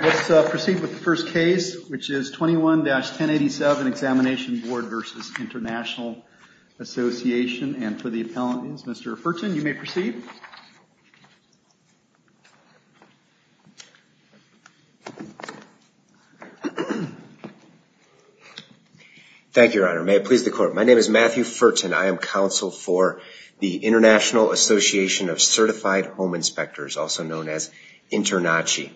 Let's proceed with the first case, which is 21-1087 Examination Board v. International Association. And for the appellants, Mr. Furton, you may proceed. Thank you, Your Honor. May it please the Court. My name is Matthew Furton. I am counsel for the International Association of Certified Home Inspectors, also known as ASHI.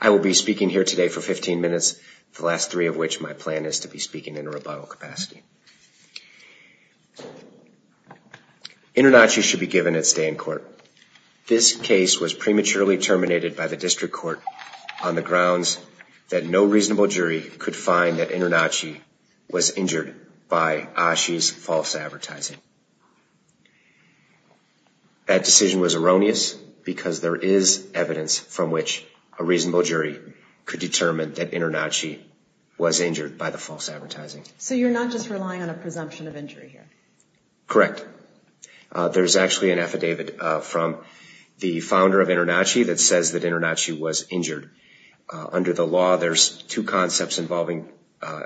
I will be speaking here today for 15 minutes, the last three of which my plan is to be speaking in a rebuttal capacity. InterNACHI should be given its day in court. This case was prematurely terminated by the District Court on the grounds that no reasonable jury could find that InterNACHI was injured by ASHI's false advertising. That decision was erroneous because there is evidence from which a reasonable jury could determine that InterNACHI was injured by the false advertising. So you're not just relying on a presumption of injury here? Correct. There's actually an affidavit from the founder of InterNACHI that says that InterNACHI was injured. Under the law, there's two concepts involving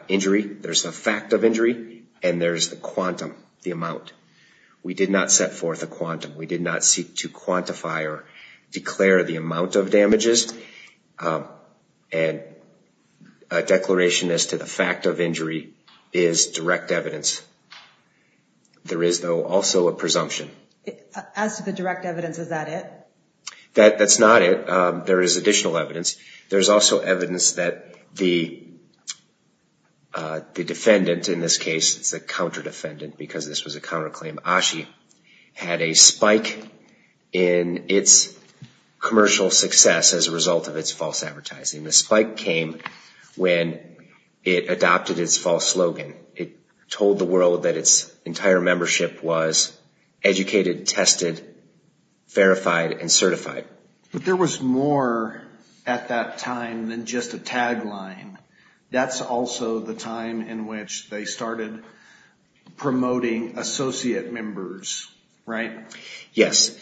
injury. There's the fact of injury and there's the quantity of injury. We did not set forth a quantum. We did not seek to quantify or declare the amount of damages. And a declaration as to the fact of injury is direct evidence. There is, though, also a presumption. As to the direct evidence, is that it? That's not it. There is additional evidence. There's also evidence that the defendant, in this case it's a counter-defendant because this was a counter-claim, ASHI, had a spike in its commercial success as a result of its false advertising. The spike came when it adopted its false slogan. It told the world that its entire membership was educated, tested, verified, and certified. But there was more at that time than just a tagline. That's also the time in which they started promoting associate members, right? Yes.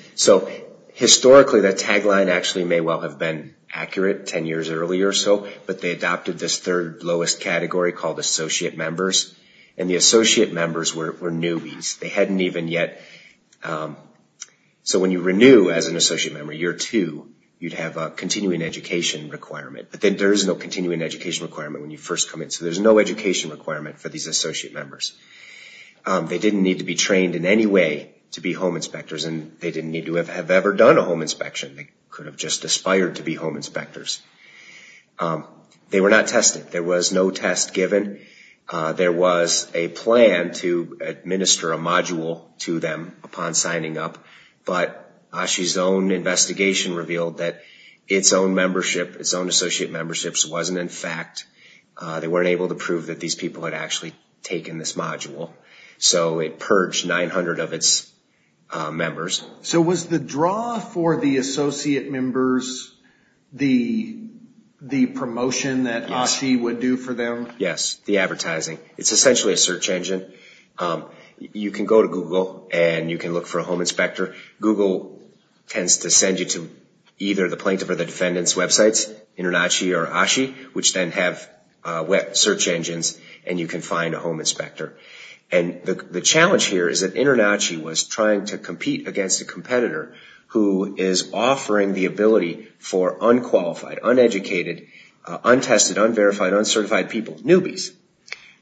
Historically, that tagline may well have been accurate 10 years earlier or so, but they adopted this third lowest category called associate members. The associate members were newbies. When you renew as an associate member, year two, you'd have a continuing education requirement. But there is no continuing education requirement when you first come in, so there's no education requirement for these associate members. They didn't need to be trained in any way to be home inspectors, and they didn't need to have ever done a home inspection. They could have just aspired to be home inspectors. They were not tested. There was no test given. There was a plan to administer a module to them upon signing up, but ASHI's own investigation revealed that its own membership, its own associate memberships, wasn't in fact... So it purged 900 of its members. So was the draw for the associate members the promotion that ASHI would do for them? Yes, the advertising. It's essentially a search engine. You can go to Google and you can look for a home inspector. Google tends to send you to either the plaintiff or the defendant's websites, InterNACHI or ASHI, which then have search engines and you can find a home inspector. And the challenge here is that InterNACHI was trying to compete against a competitor who is offering the ability for unqualified, uneducated, untested, unverified, uncertified people, newbies,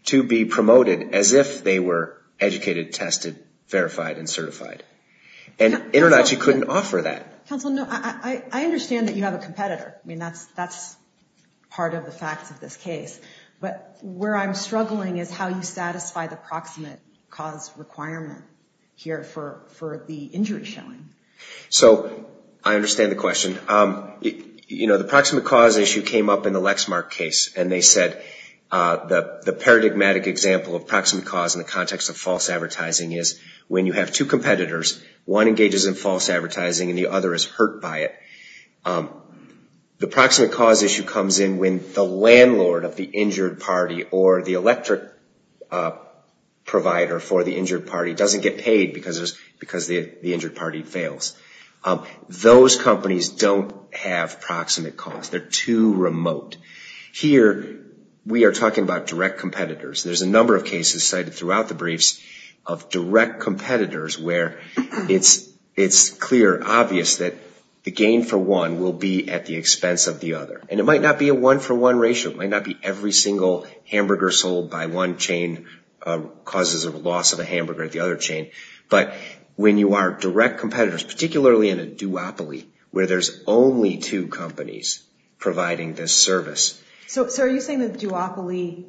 to be promoted as if they were educated, tested, verified, and certified. And InterNACHI couldn't offer that. Counsel, no, I understand that you have a competitor. I mean, that's part of the facts of this case. But where I'm struggling is how you satisfy the proximate cause requirement here for the injury showing. So I understand the question. The proximate cause issue came up in the Lexmark case. And they said the paradigmatic example of proximate cause in the context of false advertising is when you have two competitors, one engages in false advertising and the other is hurt by it. The proximate cause issue comes in when the landlord of the injured party or the electric provider for the injured party doesn't get paid because the injured party fails. Those companies don't have proximate cause. They're too remote. Here we are talking about direct competitors. There's a number of cases cited throughout the briefs of direct competitors where it's clear, obvious that the gain for one will be at the expense of the other. And it might not be a one-for-one ratio. It might not be every single hamburger sold by one chain causes a loss of a hamburger at the other chain. But when you are direct competitors, particularly in a duopoly where there's only two companies providing this service. So are you saying the duopoly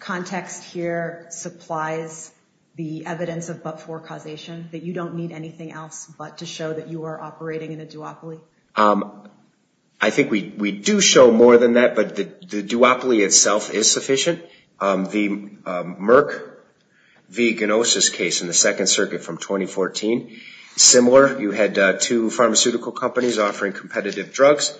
context here supplies the evidence of but-for causation, that you don't need anything else but to show that you are operating in a duopoly? I think we do show more than that. But the duopoly itself is sufficient. The Merck v. Gnosis case in the Second Circuit from 2014, similar. You had two pharmaceutical companies offering competitive drugs.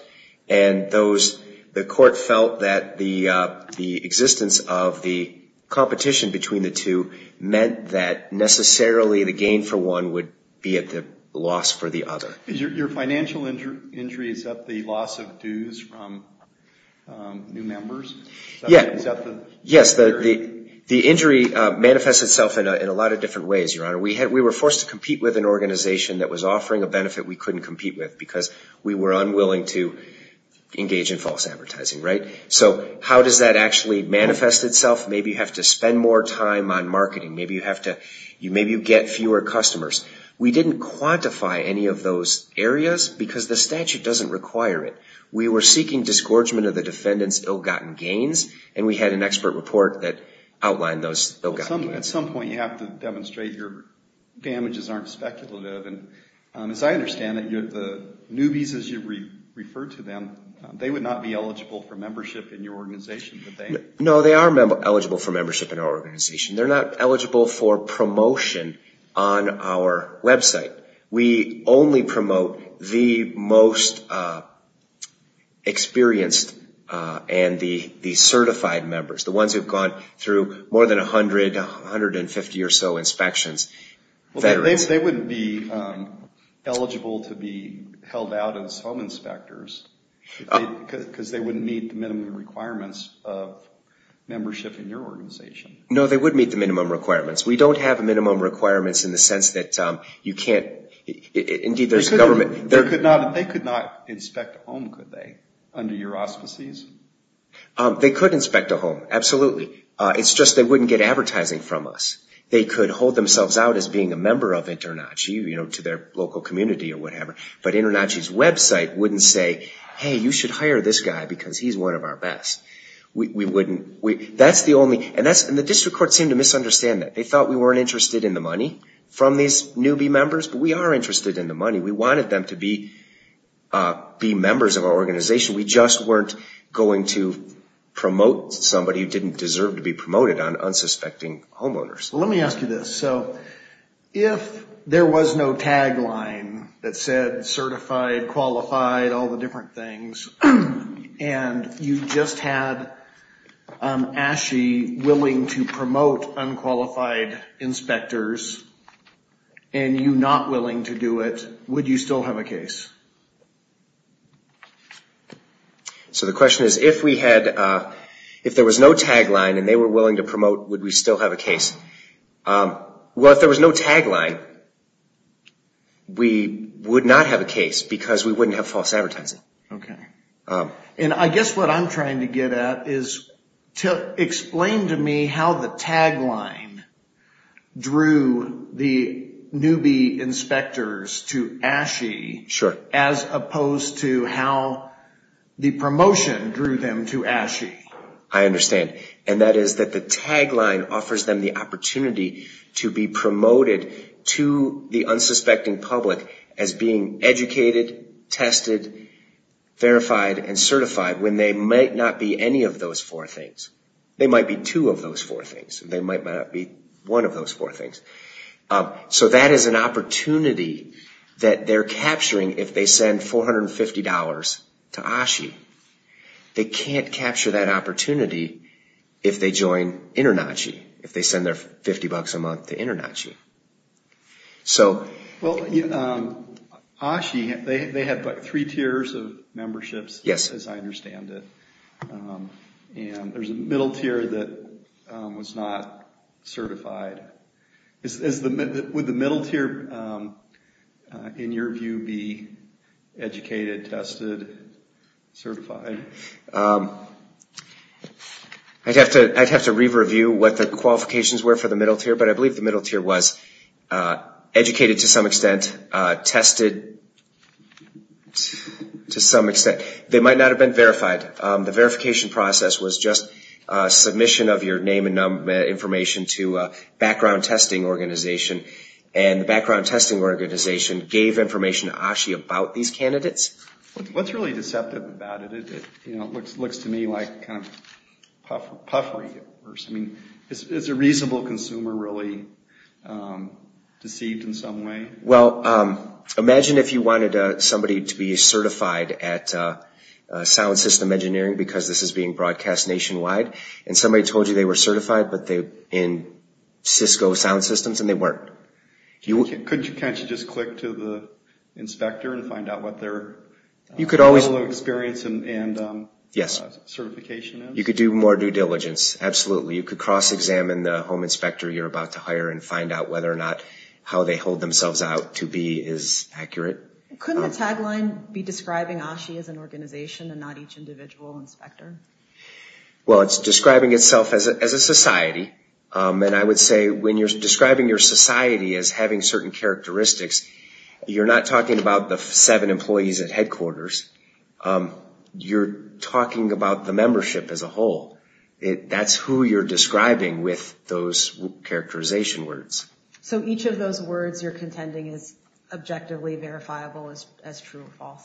And the court felt that the existence of the competition between the two meant that necessarily the gain for one would be at the loss for the other. Your financial injury, is that the loss of dues from new members? Yes, the injury manifests itself in a lot of different ways, Your Honor. We were forced to compete with an organization that was offering a benefit we couldn't compete with because we were unwilling to engage in false advertising. So how does that actually manifest itself? Maybe you have to spend more time on marketing. Maybe you get fewer customers. We didn't quantify any of those areas because the statute doesn't require it. We were seeking disgorgement of the defendant's ill-gotten gains, and we had an expert report that outlined those ill-gotten gains. At some point you have to demonstrate your damages aren't speculative. As I understand it, the newbies, as you referred to them, they would not be eligible for membership in your organization, would they? No, they are eligible for membership in our organization. They're not eligible for promotion on our website. We only promote the most experienced and the certified members, the ones who have gone through more than 100, 150 or so inspections. They wouldn't be eligible to be held out as home inspectors because they wouldn't meet the minimum requirements of membership in your organization. No, they would meet the minimum requirements. We don't have minimum requirements in the sense that you can't – indeed, there's a government – They could not inspect a home, could they, under your auspices? They could inspect a home, absolutely. It's just they wouldn't get advertising from us. They could hold themselves out as being a member of InterNACHI, you know, to their local community or whatever, but InterNACHI's website wouldn't say, hey, you should hire this guy because he's one of our best. That's the only – and the district court seemed to misunderstand that. They thought we weren't interested in the money from these newbie members, but we are interested in the money. We wanted them to be members of our organization. We just weren't going to promote somebody who didn't deserve to be promoted on unsuspecting homeowners. Let me ask you this. So if there was no tagline that said certified, qualified, all the different things, and you just had ASHE willing to promote unqualified inspectors and you not willing to do it, would you still have a case? So the question is, if we had – if there was no tagline and they were willing to promote, would we still have a case? Well, if there was no tagline, we would not have a case because we wouldn't have false advertising. Okay. And I guess what I'm trying to get at is to explain to me how the tagline drew the newbie inspectors to ASHE. Sure. As opposed to how the promotion drew them to ASHE. I understand. And that is that the tagline offers them the opportunity to be promoted to the unsuspecting public as being educated, tested, verified, and certified when they might not be any of those four things. They might be two of those four things. They might not be one of those four things. So that is an opportunity that they're capturing if they send $450 to ASHE. They can't capture that opportunity if they join InterNACHI, if they send their 50 bucks a month to InterNACHI. Well, ASHE, they have three tiers of memberships, as I understand it. Yes. And there's a middle tier that was not certified. Would the middle tier, in your view, be educated, tested, certified? Again, I'd have to re-review what the qualifications were for the middle tier, but I believe the middle tier was educated to some extent, tested to some extent. They might not have been verified. The verification process was just submission of your name and information to a background testing organization, and the background testing organization gave information to ASHE about these candidates. What's really deceptive about it? It looks to me like kind of puffery at first. I mean, is a reasonable consumer really deceived in some way? Well, imagine if you wanted somebody to be certified at sound system engineering because this is being broadcast nationwide, and somebody told you they were certified in Cisco sound systems, and they weren't. Can't you just click to the inspector and find out what their level of experience and certification is? You could do more due diligence, absolutely. You could cross-examine the home inspector you're about to hire and find out whether or not how they hold themselves out to be is accurate. Couldn't the tagline be describing ASHE as an organization and not each individual inspector? Well, it's describing itself as a society, and I would say when you're describing your society as having certain characteristics, you're not talking about the seven employees at headquarters. You're talking about the membership as a whole. That's who you're describing with those characterization words. So each of those words you're contending is objectively verifiable as true or false?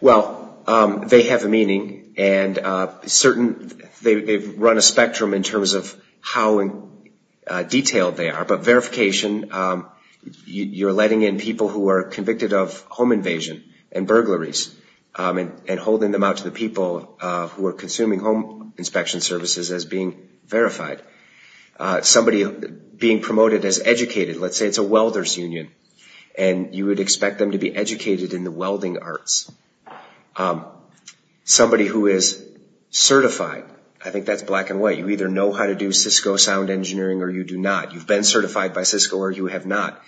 Well, they have a meaning, and they've run a spectrum in terms of how detailed they are, but verification, you're letting in people who are convicted of home invasion and burglaries and holding them out to the people who are consuming home inspection services as being verified. Somebody being promoted as educated, let's say it's a welder's union, and you would expect them to be educated in the welding arts. Somebody who is certified, I think that's black and white. You either know how to do Cisco sound engineering or you do not. You've been certified by Cisco or you have not.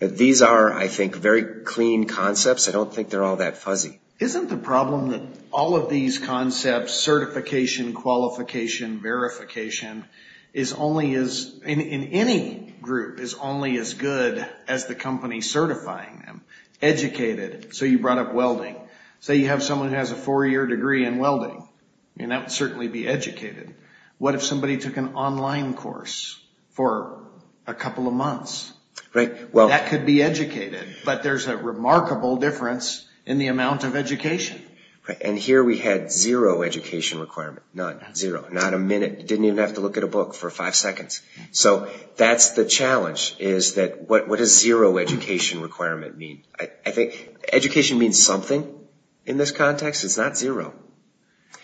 These are, I think, very clean concepts. I don't think they're all that fuzzy. Isn't the problem that all of these concepts, certification, qualification, verification, in any group is only as good as the company certifying them? Educated, so you brought up welding. Say you have someone who has a four-year degree in welding. That would certainly be educated. What if somebody took an online course for a couple of months? That could be educated, but there's a remarkable difference in the amount of education. And here we had zero education requirement, not a minute. You didn't even have to look at a book for five seconds. So that's the challenge, is that what does zero education requirement mean? I think education means something in this context. It's not zero.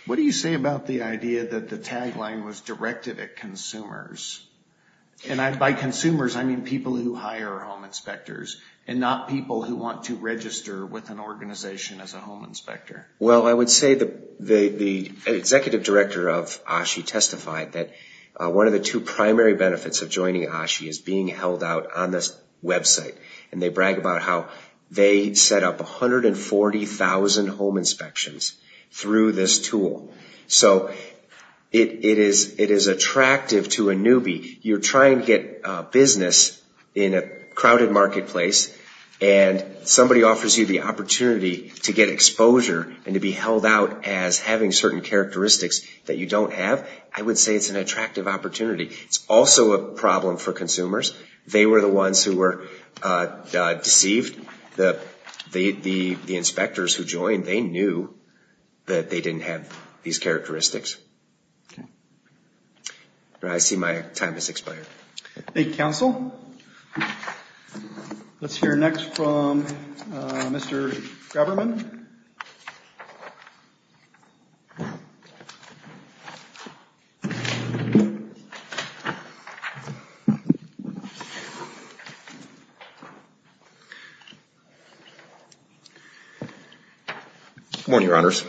What do you say about the idea that the tagline was directed at consumers? And by consumers, I mean people who hire home inspectors and not people who want to register with an organization as a home inspector. Well, I would say the executive director of ASHI testified that one of the two primary benefits of joining ASHI is being held out on this website. And they brag about how they set up 140,000 home inspections through this tool. So it is attractive to a newbie. You're trying to get business in a crowded marketplace, and somebody offers you the opportunity to get exposure and to be held out as having certain characteristics that you don't have. I would say it's an attractive opportunity. It's also a problem for consumers. They were the ones who were deceived. The inspectors who joined, they knew that they didn't have these characteristics. I see my time has expired. Thank you, counsel. Let's hear next from Mr. Graberman. Good morning, Your Honors.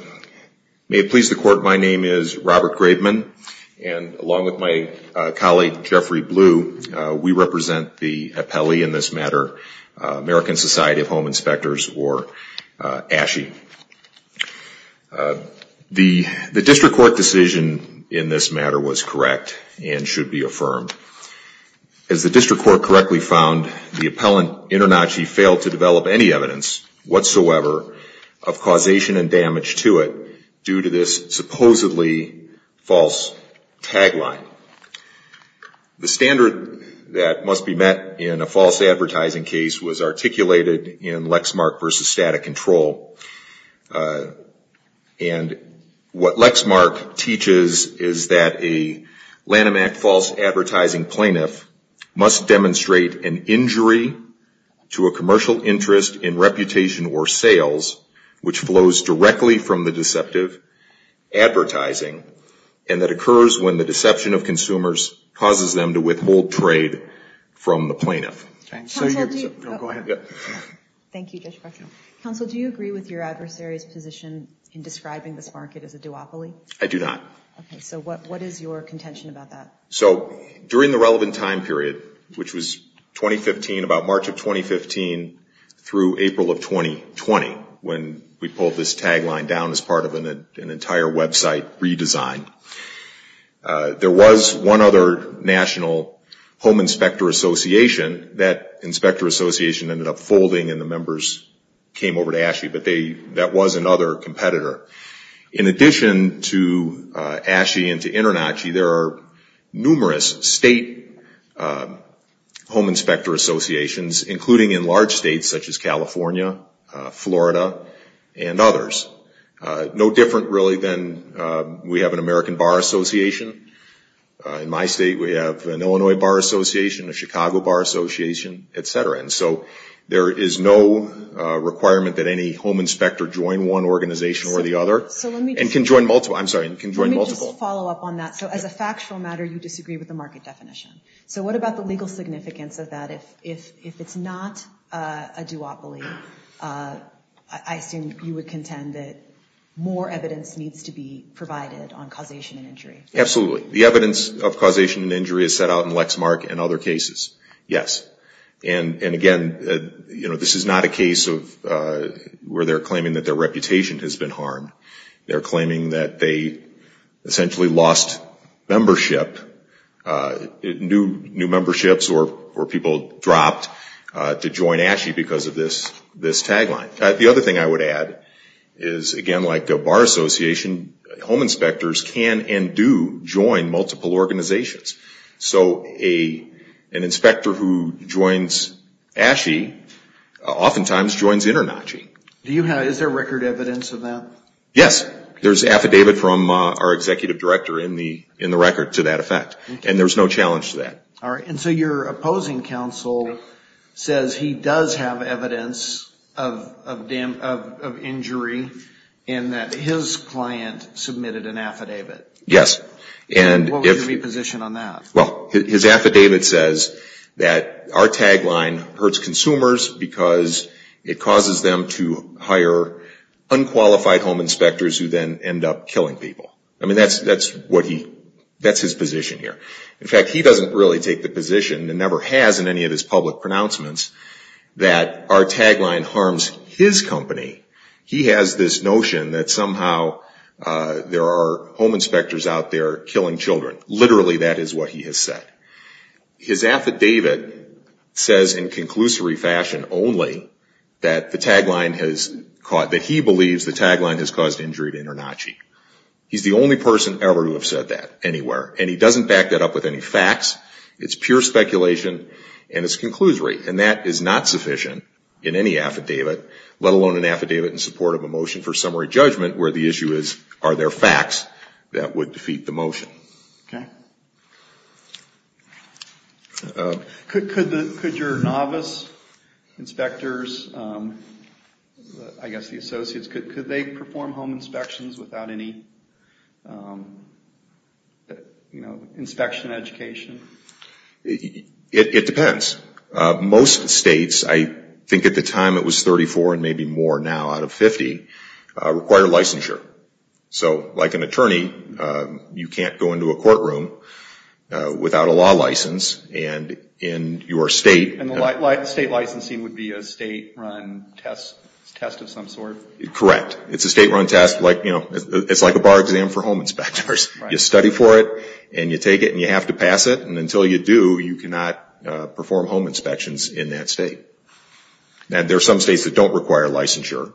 May it please the Court, my name is Robert Graberman, and along with my colleague, Jeffrey Blue, we represent the appellee in this matter, American Society of Home Inspectors, or ASHI. The district court decision in this matter was correct and should be affirmed. As the district court correctly found, the appellant InterNACHI failed to develop any evidence whatsoever of causation and damage to it due to this supposedly false tagline. The standard that must be met in a false advertising case was articulated in Lexmark v. Static Control, and what Lexmark teaches is that a Lanham Act false advertising plaintiff must demonstrate an injury to a commercial interest in reputation or sales which flows directly from the deceptive advertising and that occurs when the deception of consumers causes them to withhold trade from the plaintiff. Counsel, do you agree with your adversary's position in describing this market as a duopoly? I do not. Okay, so what is your contention about that? So during the relevant time period, which was 2015, about March of 2015 through April of 2020, when we pulled this tagline down as part of an entire website redesign, there was one other national home inspector association. That inspector association ended up folding and the members came over to ASHI, but that was another competitor. In addition to ASHI and to InterNACHI, there are numerous state home inspector associations, including in large states such as California, Florida, and others. No different really than we have an American Bar Association. In my state we have an Illinois Bar Association, a Chicago Bar Association, et cetera. And so there is no requirement that any home inspector join one organization or the other and can join multiple. Let me just follow up on that. So as a factual matter, you disagree with the market definition. So what about the legal significance of that? If it's not a duopoly, I assume you would contend that more evidence needs to be provided on causation and injury. Absolutely. The evidence of causation and injury is set out in Lexmark and other cases, yes. And again, you know, this is not a case of where they're claiming that their reputation has been harmed. They're claiming that they essentially lost membership, new memberships or people dropped to join ASHI because of this tagline. The other thing I would add is, again, like the Bar Association, home inspectors can and do join multiple organizations. So an inspector who joins ASHI oftentimes joins InterNACHI. Is there record evidence of that? Yes. There's affidavit from our executive director in the record to that effect. And there's no challenge to that. All right. And so your opposing counsel says he does have evidence of injury and that his client submitted an affidavit. Yes. What would your position be on that? Well, his affidavit says that our tagline hurts consumers because it causes them to hire unqualified home inspectors who then end up killing people. I mean, that's his position here. In fact, he doesn't really take the position and never has in any of his public pronouncements that our tagline harms his company. He has this notion that somehow there are home inspectors out there killing children. Literally, that is what he has said. His affidavit says in conclusory fashion only that he believes the tagline has caused injury to InterNACHI. He's the only person ever to have said that anywhere. And he doesn't back that up with any facts. It's pure speculation and it's conclusory. And that is not sufficient in any affidavit, let alone an affidavit in support of a motion for summary judgment, where the issue is are there facts that would defeat the motion. Okay. Could your novice inspectors, I guess the associates, could they perform home inspections without any, you know, inspection education? It depends. Most states, I think at the time it was 34 and maybe more now out of 50, require licensure. So like an attorney, you can't go into a courtroom without a law license. And in your state... And the state licensing would be a state run test of some sort? Correct. It's a state run test. It's like a bar exam for home inspectors. You study for it and you take it and you have to pass it. And until you do, you cannot perform home inspections in that state. And there are some states that don't require licensure.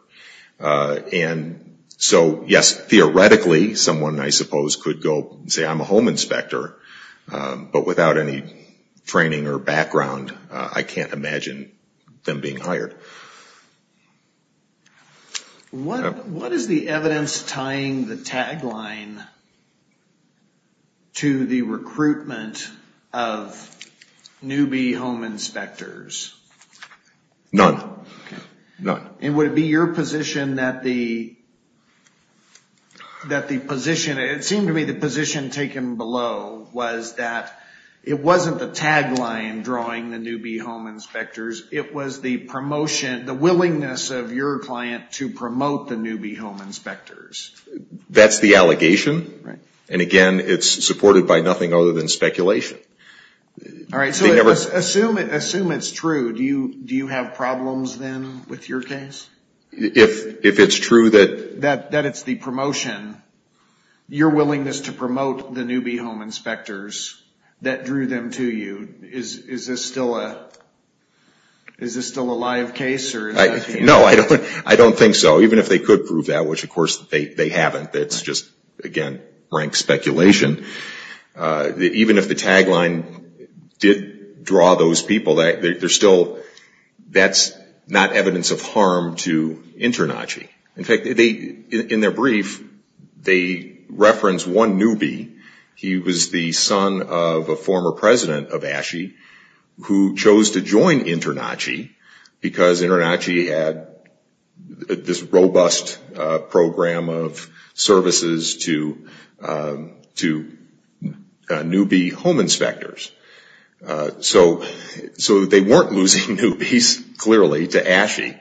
And so, yes, theoretically, someone, I suppose, could go and say, I'm a home inspector, but without any training or background, I can't imagine them being hired. What is the evidence tying the tagline to the recruitment of newbie home inspectors? None. None. And would it be your position that the position, it seemed to me the position taken below was that it wasn't the tagline drawing the newbie home inspectors, it was the promotion, the willingness of your client to promote the newbie home inspectors? That's the allegation. And, again, it's supported by nothing other than speculation. All right. So assume it's true. Do you have problems then with your case? If it's true that... That it's the promotion, your willingness to promote the newbie home inspectors that drew them to you, is this still a live case? No, I don't think so. Even if they could prove that, which, of course, they haven't. It's just, again, rank speculation. Even if the tagline did draw those people, that's not evidence of harm to InterNACHI. In fact, in their brief, they reference one newbie. He was the son of a former president of ASHE who chose to join InterNACHI because InterNACHI had this robust program of services to newbie home inspectors. So they weren't losing newbies, clearly, to ASHE.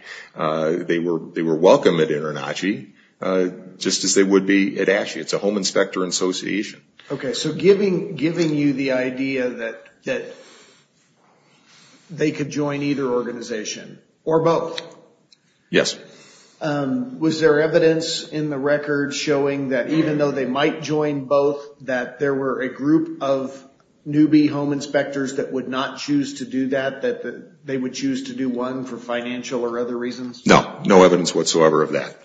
They were welcome at InterNACHI, just as they would be at ASHE. It's a home inspector association. Okay, so giving you the idea that they could join either organization, or both. Yes. Was there evidence in the record showing that even though they might join both, that there were a group of newbie home inspectors that would not choose to do that, that they would choose to do one for financial or other reasons? No, no evidence whatsoever of that.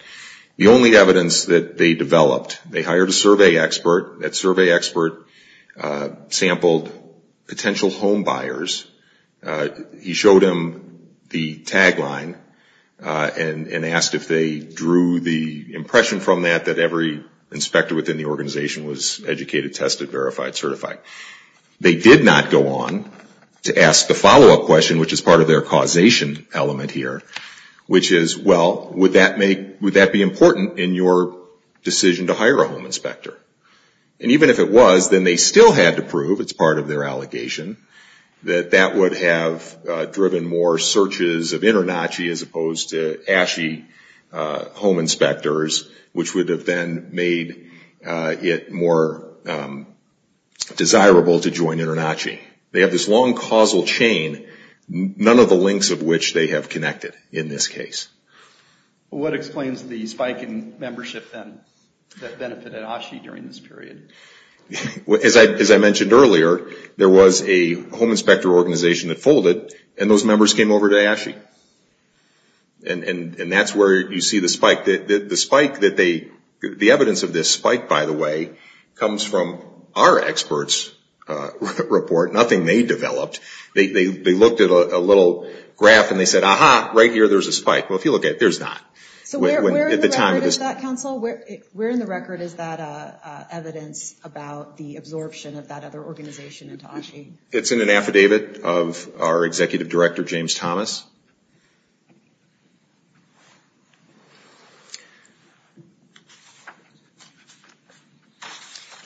The only evidence that they developed, they hired a survey expert. That survey expert sampled potential home buyers. He showed them the tagline and asked if they drew the impression from that that every inspector within the organization was educated, tested, verified, certified. They did not go on to ask the follow-up question, which is part of their causation element here, which is, well, would that be important in your decision to hire a home inspector? And even if it was, then they still had to prove, it's part of their allegation, that that would have driven more searches of InterNACHI as opposed to ASHE home inspectors, which would have then made it more desirable to join InterNACHI. They have this long causal chain, none of the links of which they have connected in this case. What explains the spike in membership then that benefited ASHE during this period? As I mentioned earlier, there was a home inspector organization that folded, and those members came over to ASHE. And that's where you see the spike. The evidence of this spike, by the way, comes from our experts' report. Nothing they developed. They looked at a little graph and they said, aha, right here there's a spike. Well, if you look at it, there's not. So where in the record is that, counsel? Where in the record is that evidence about the absorption of that other organization into ASHE? It's in an affidavit of our executive director, James Thomas.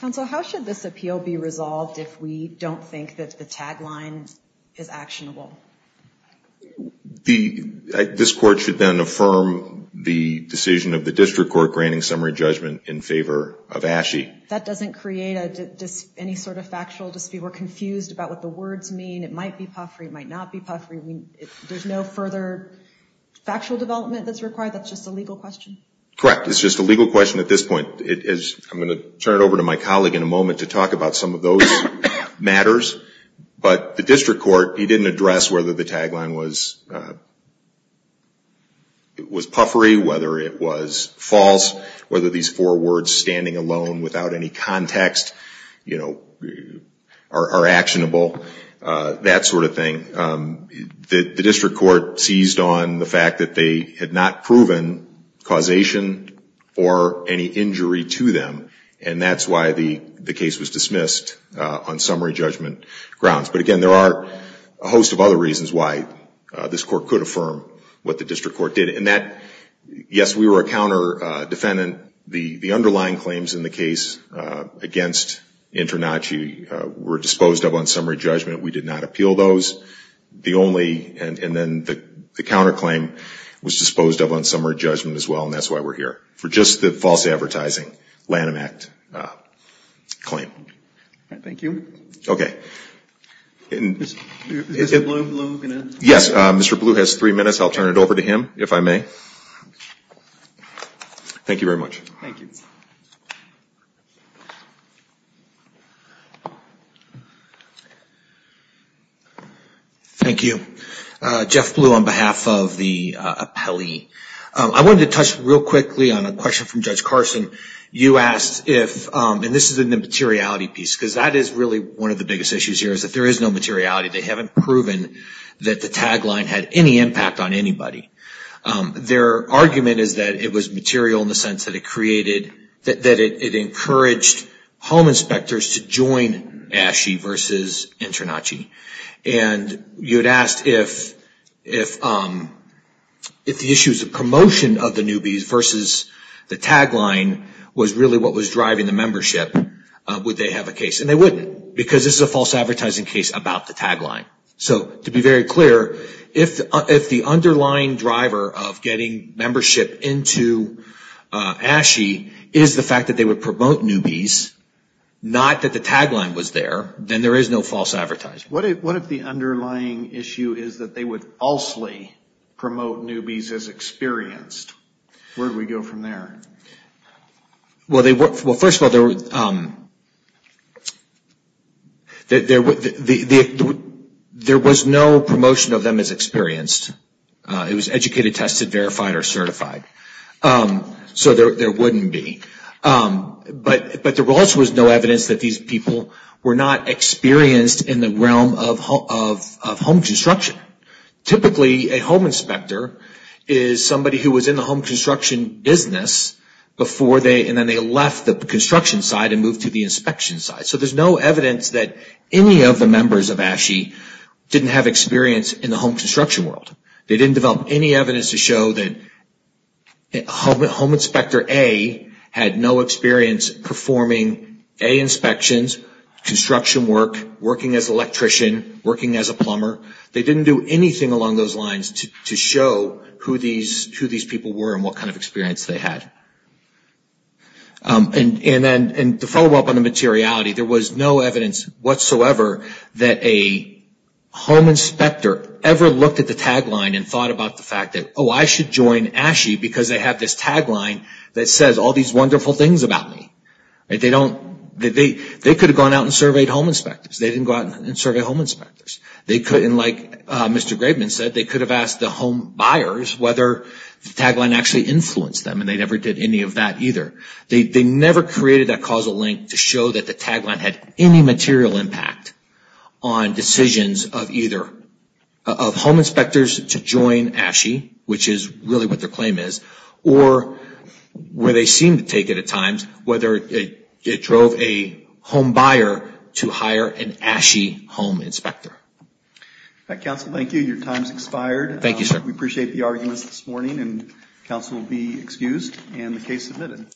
Counsel, how should this appeal be resolved if we don't think that the tagline is actionable? This court should then affirm the decision of the district court granting summary judgment in favor of ASHE. That doesn't create any sort of factual dispute. We're confused about what the words mean. It might be puffery. It might not be puffery. There's no further factual development that's required? That's just a legal question? Correct. It's just a legal question at this point. I'm going to turn it over to my colleague in a moment to talk about some of those matters. But the district court, he didn't address whether the tagline was puffery, whether it was false, whether these four words, standing alone without any context, are actionable, that sort of thing. The district court seized on the fact that they had not proven causation or any injury to them, and that's why the case was dismissed on summary judgment grounds. But, again, there are a host of other reasons why this court could affirm what the district court did. Yes, we were a counter-defendant. The underlying claims in the case against InterNACHI were disposed of on summary judgment. We did not appeal those. And then the counterclaim was disposed of on summary judgment as well, and that's why we're here, for just the false advertising Lanham Act claim. Thank you. Okay. Is Mr. Blue going to answer? Yes. Mr. Blue has three minutes. I'll turn it over to him, if I may. Thank you very much. Thank you. Thank you. Jeff Blue on behalf of the appellee. I wanted to touch real quickly on a question from Judge Carson. You asked if, and this is a materiality piece, because that is really one of the biggest issues here, is that there is no materiality. They haven't proven that the tagline had any impact on anybody. Their argument is that it was material in the sense that it created, that it encouraged home inspectors to join ASHE versus InterNACHI. And you had asked if the issues of promotion of the newbies versus the tagline was really what was driving the membership, would they have a case? And they wouldn't, because this is a false advertising case about the tagline. So to be very clear, if the underlying driver of getting membership into ASHE is the fact that they would promote newbies, not that the tagline was there, then there is no false advertising. What if the underlying issue is that they would falsely promote newbies as experienced? Where do we go from there? Well, first of all, there was no promotion of them as experienced. It was educated, tested, verified, or certified. So there wouldn't be. But there also was no evidence that these people were not experienced in the realm of home construction. Typically, a home inspector is somebody who was in the home construction business before they, and then they left the construction side and moved to the inspection side. So there's no evidence that any of the members of ASHE didn't have experience in the home construction world. They didn't develop any evidence to show that home inspector A had no experience performing A inspections, construction work, working as an electrician, working as a plumber. They didn't do anything along those lines to show who these people were and what kind of experience they had. And to follow up on the materiality, there was no evidence whatsoever that a home inspector ever looked at the tagline and thought about the fact that, oh, I should join ASHE because they have this tagline that says all these wonderful things about me. They could have gone out and surveyed home inspectors. They didn't go out and survey home inspectors. They couldn't, like Mr. Graveman said, they could have asked the home buyers whether the tagline actually influenced them, and they never did any of that either. They never created that causal link to show that the tagline had any material impact on decisions of either, of home inspectors to join ASHE, which is really what their claim is, or where they seem to take it at times, whether it drove a home buyer to hire an ASHE home inspector. All right, counsel, thank you. Your time has expired. Thank you, sir. We appreciate the arguments this morning, and counsel will be excused and the case submitted.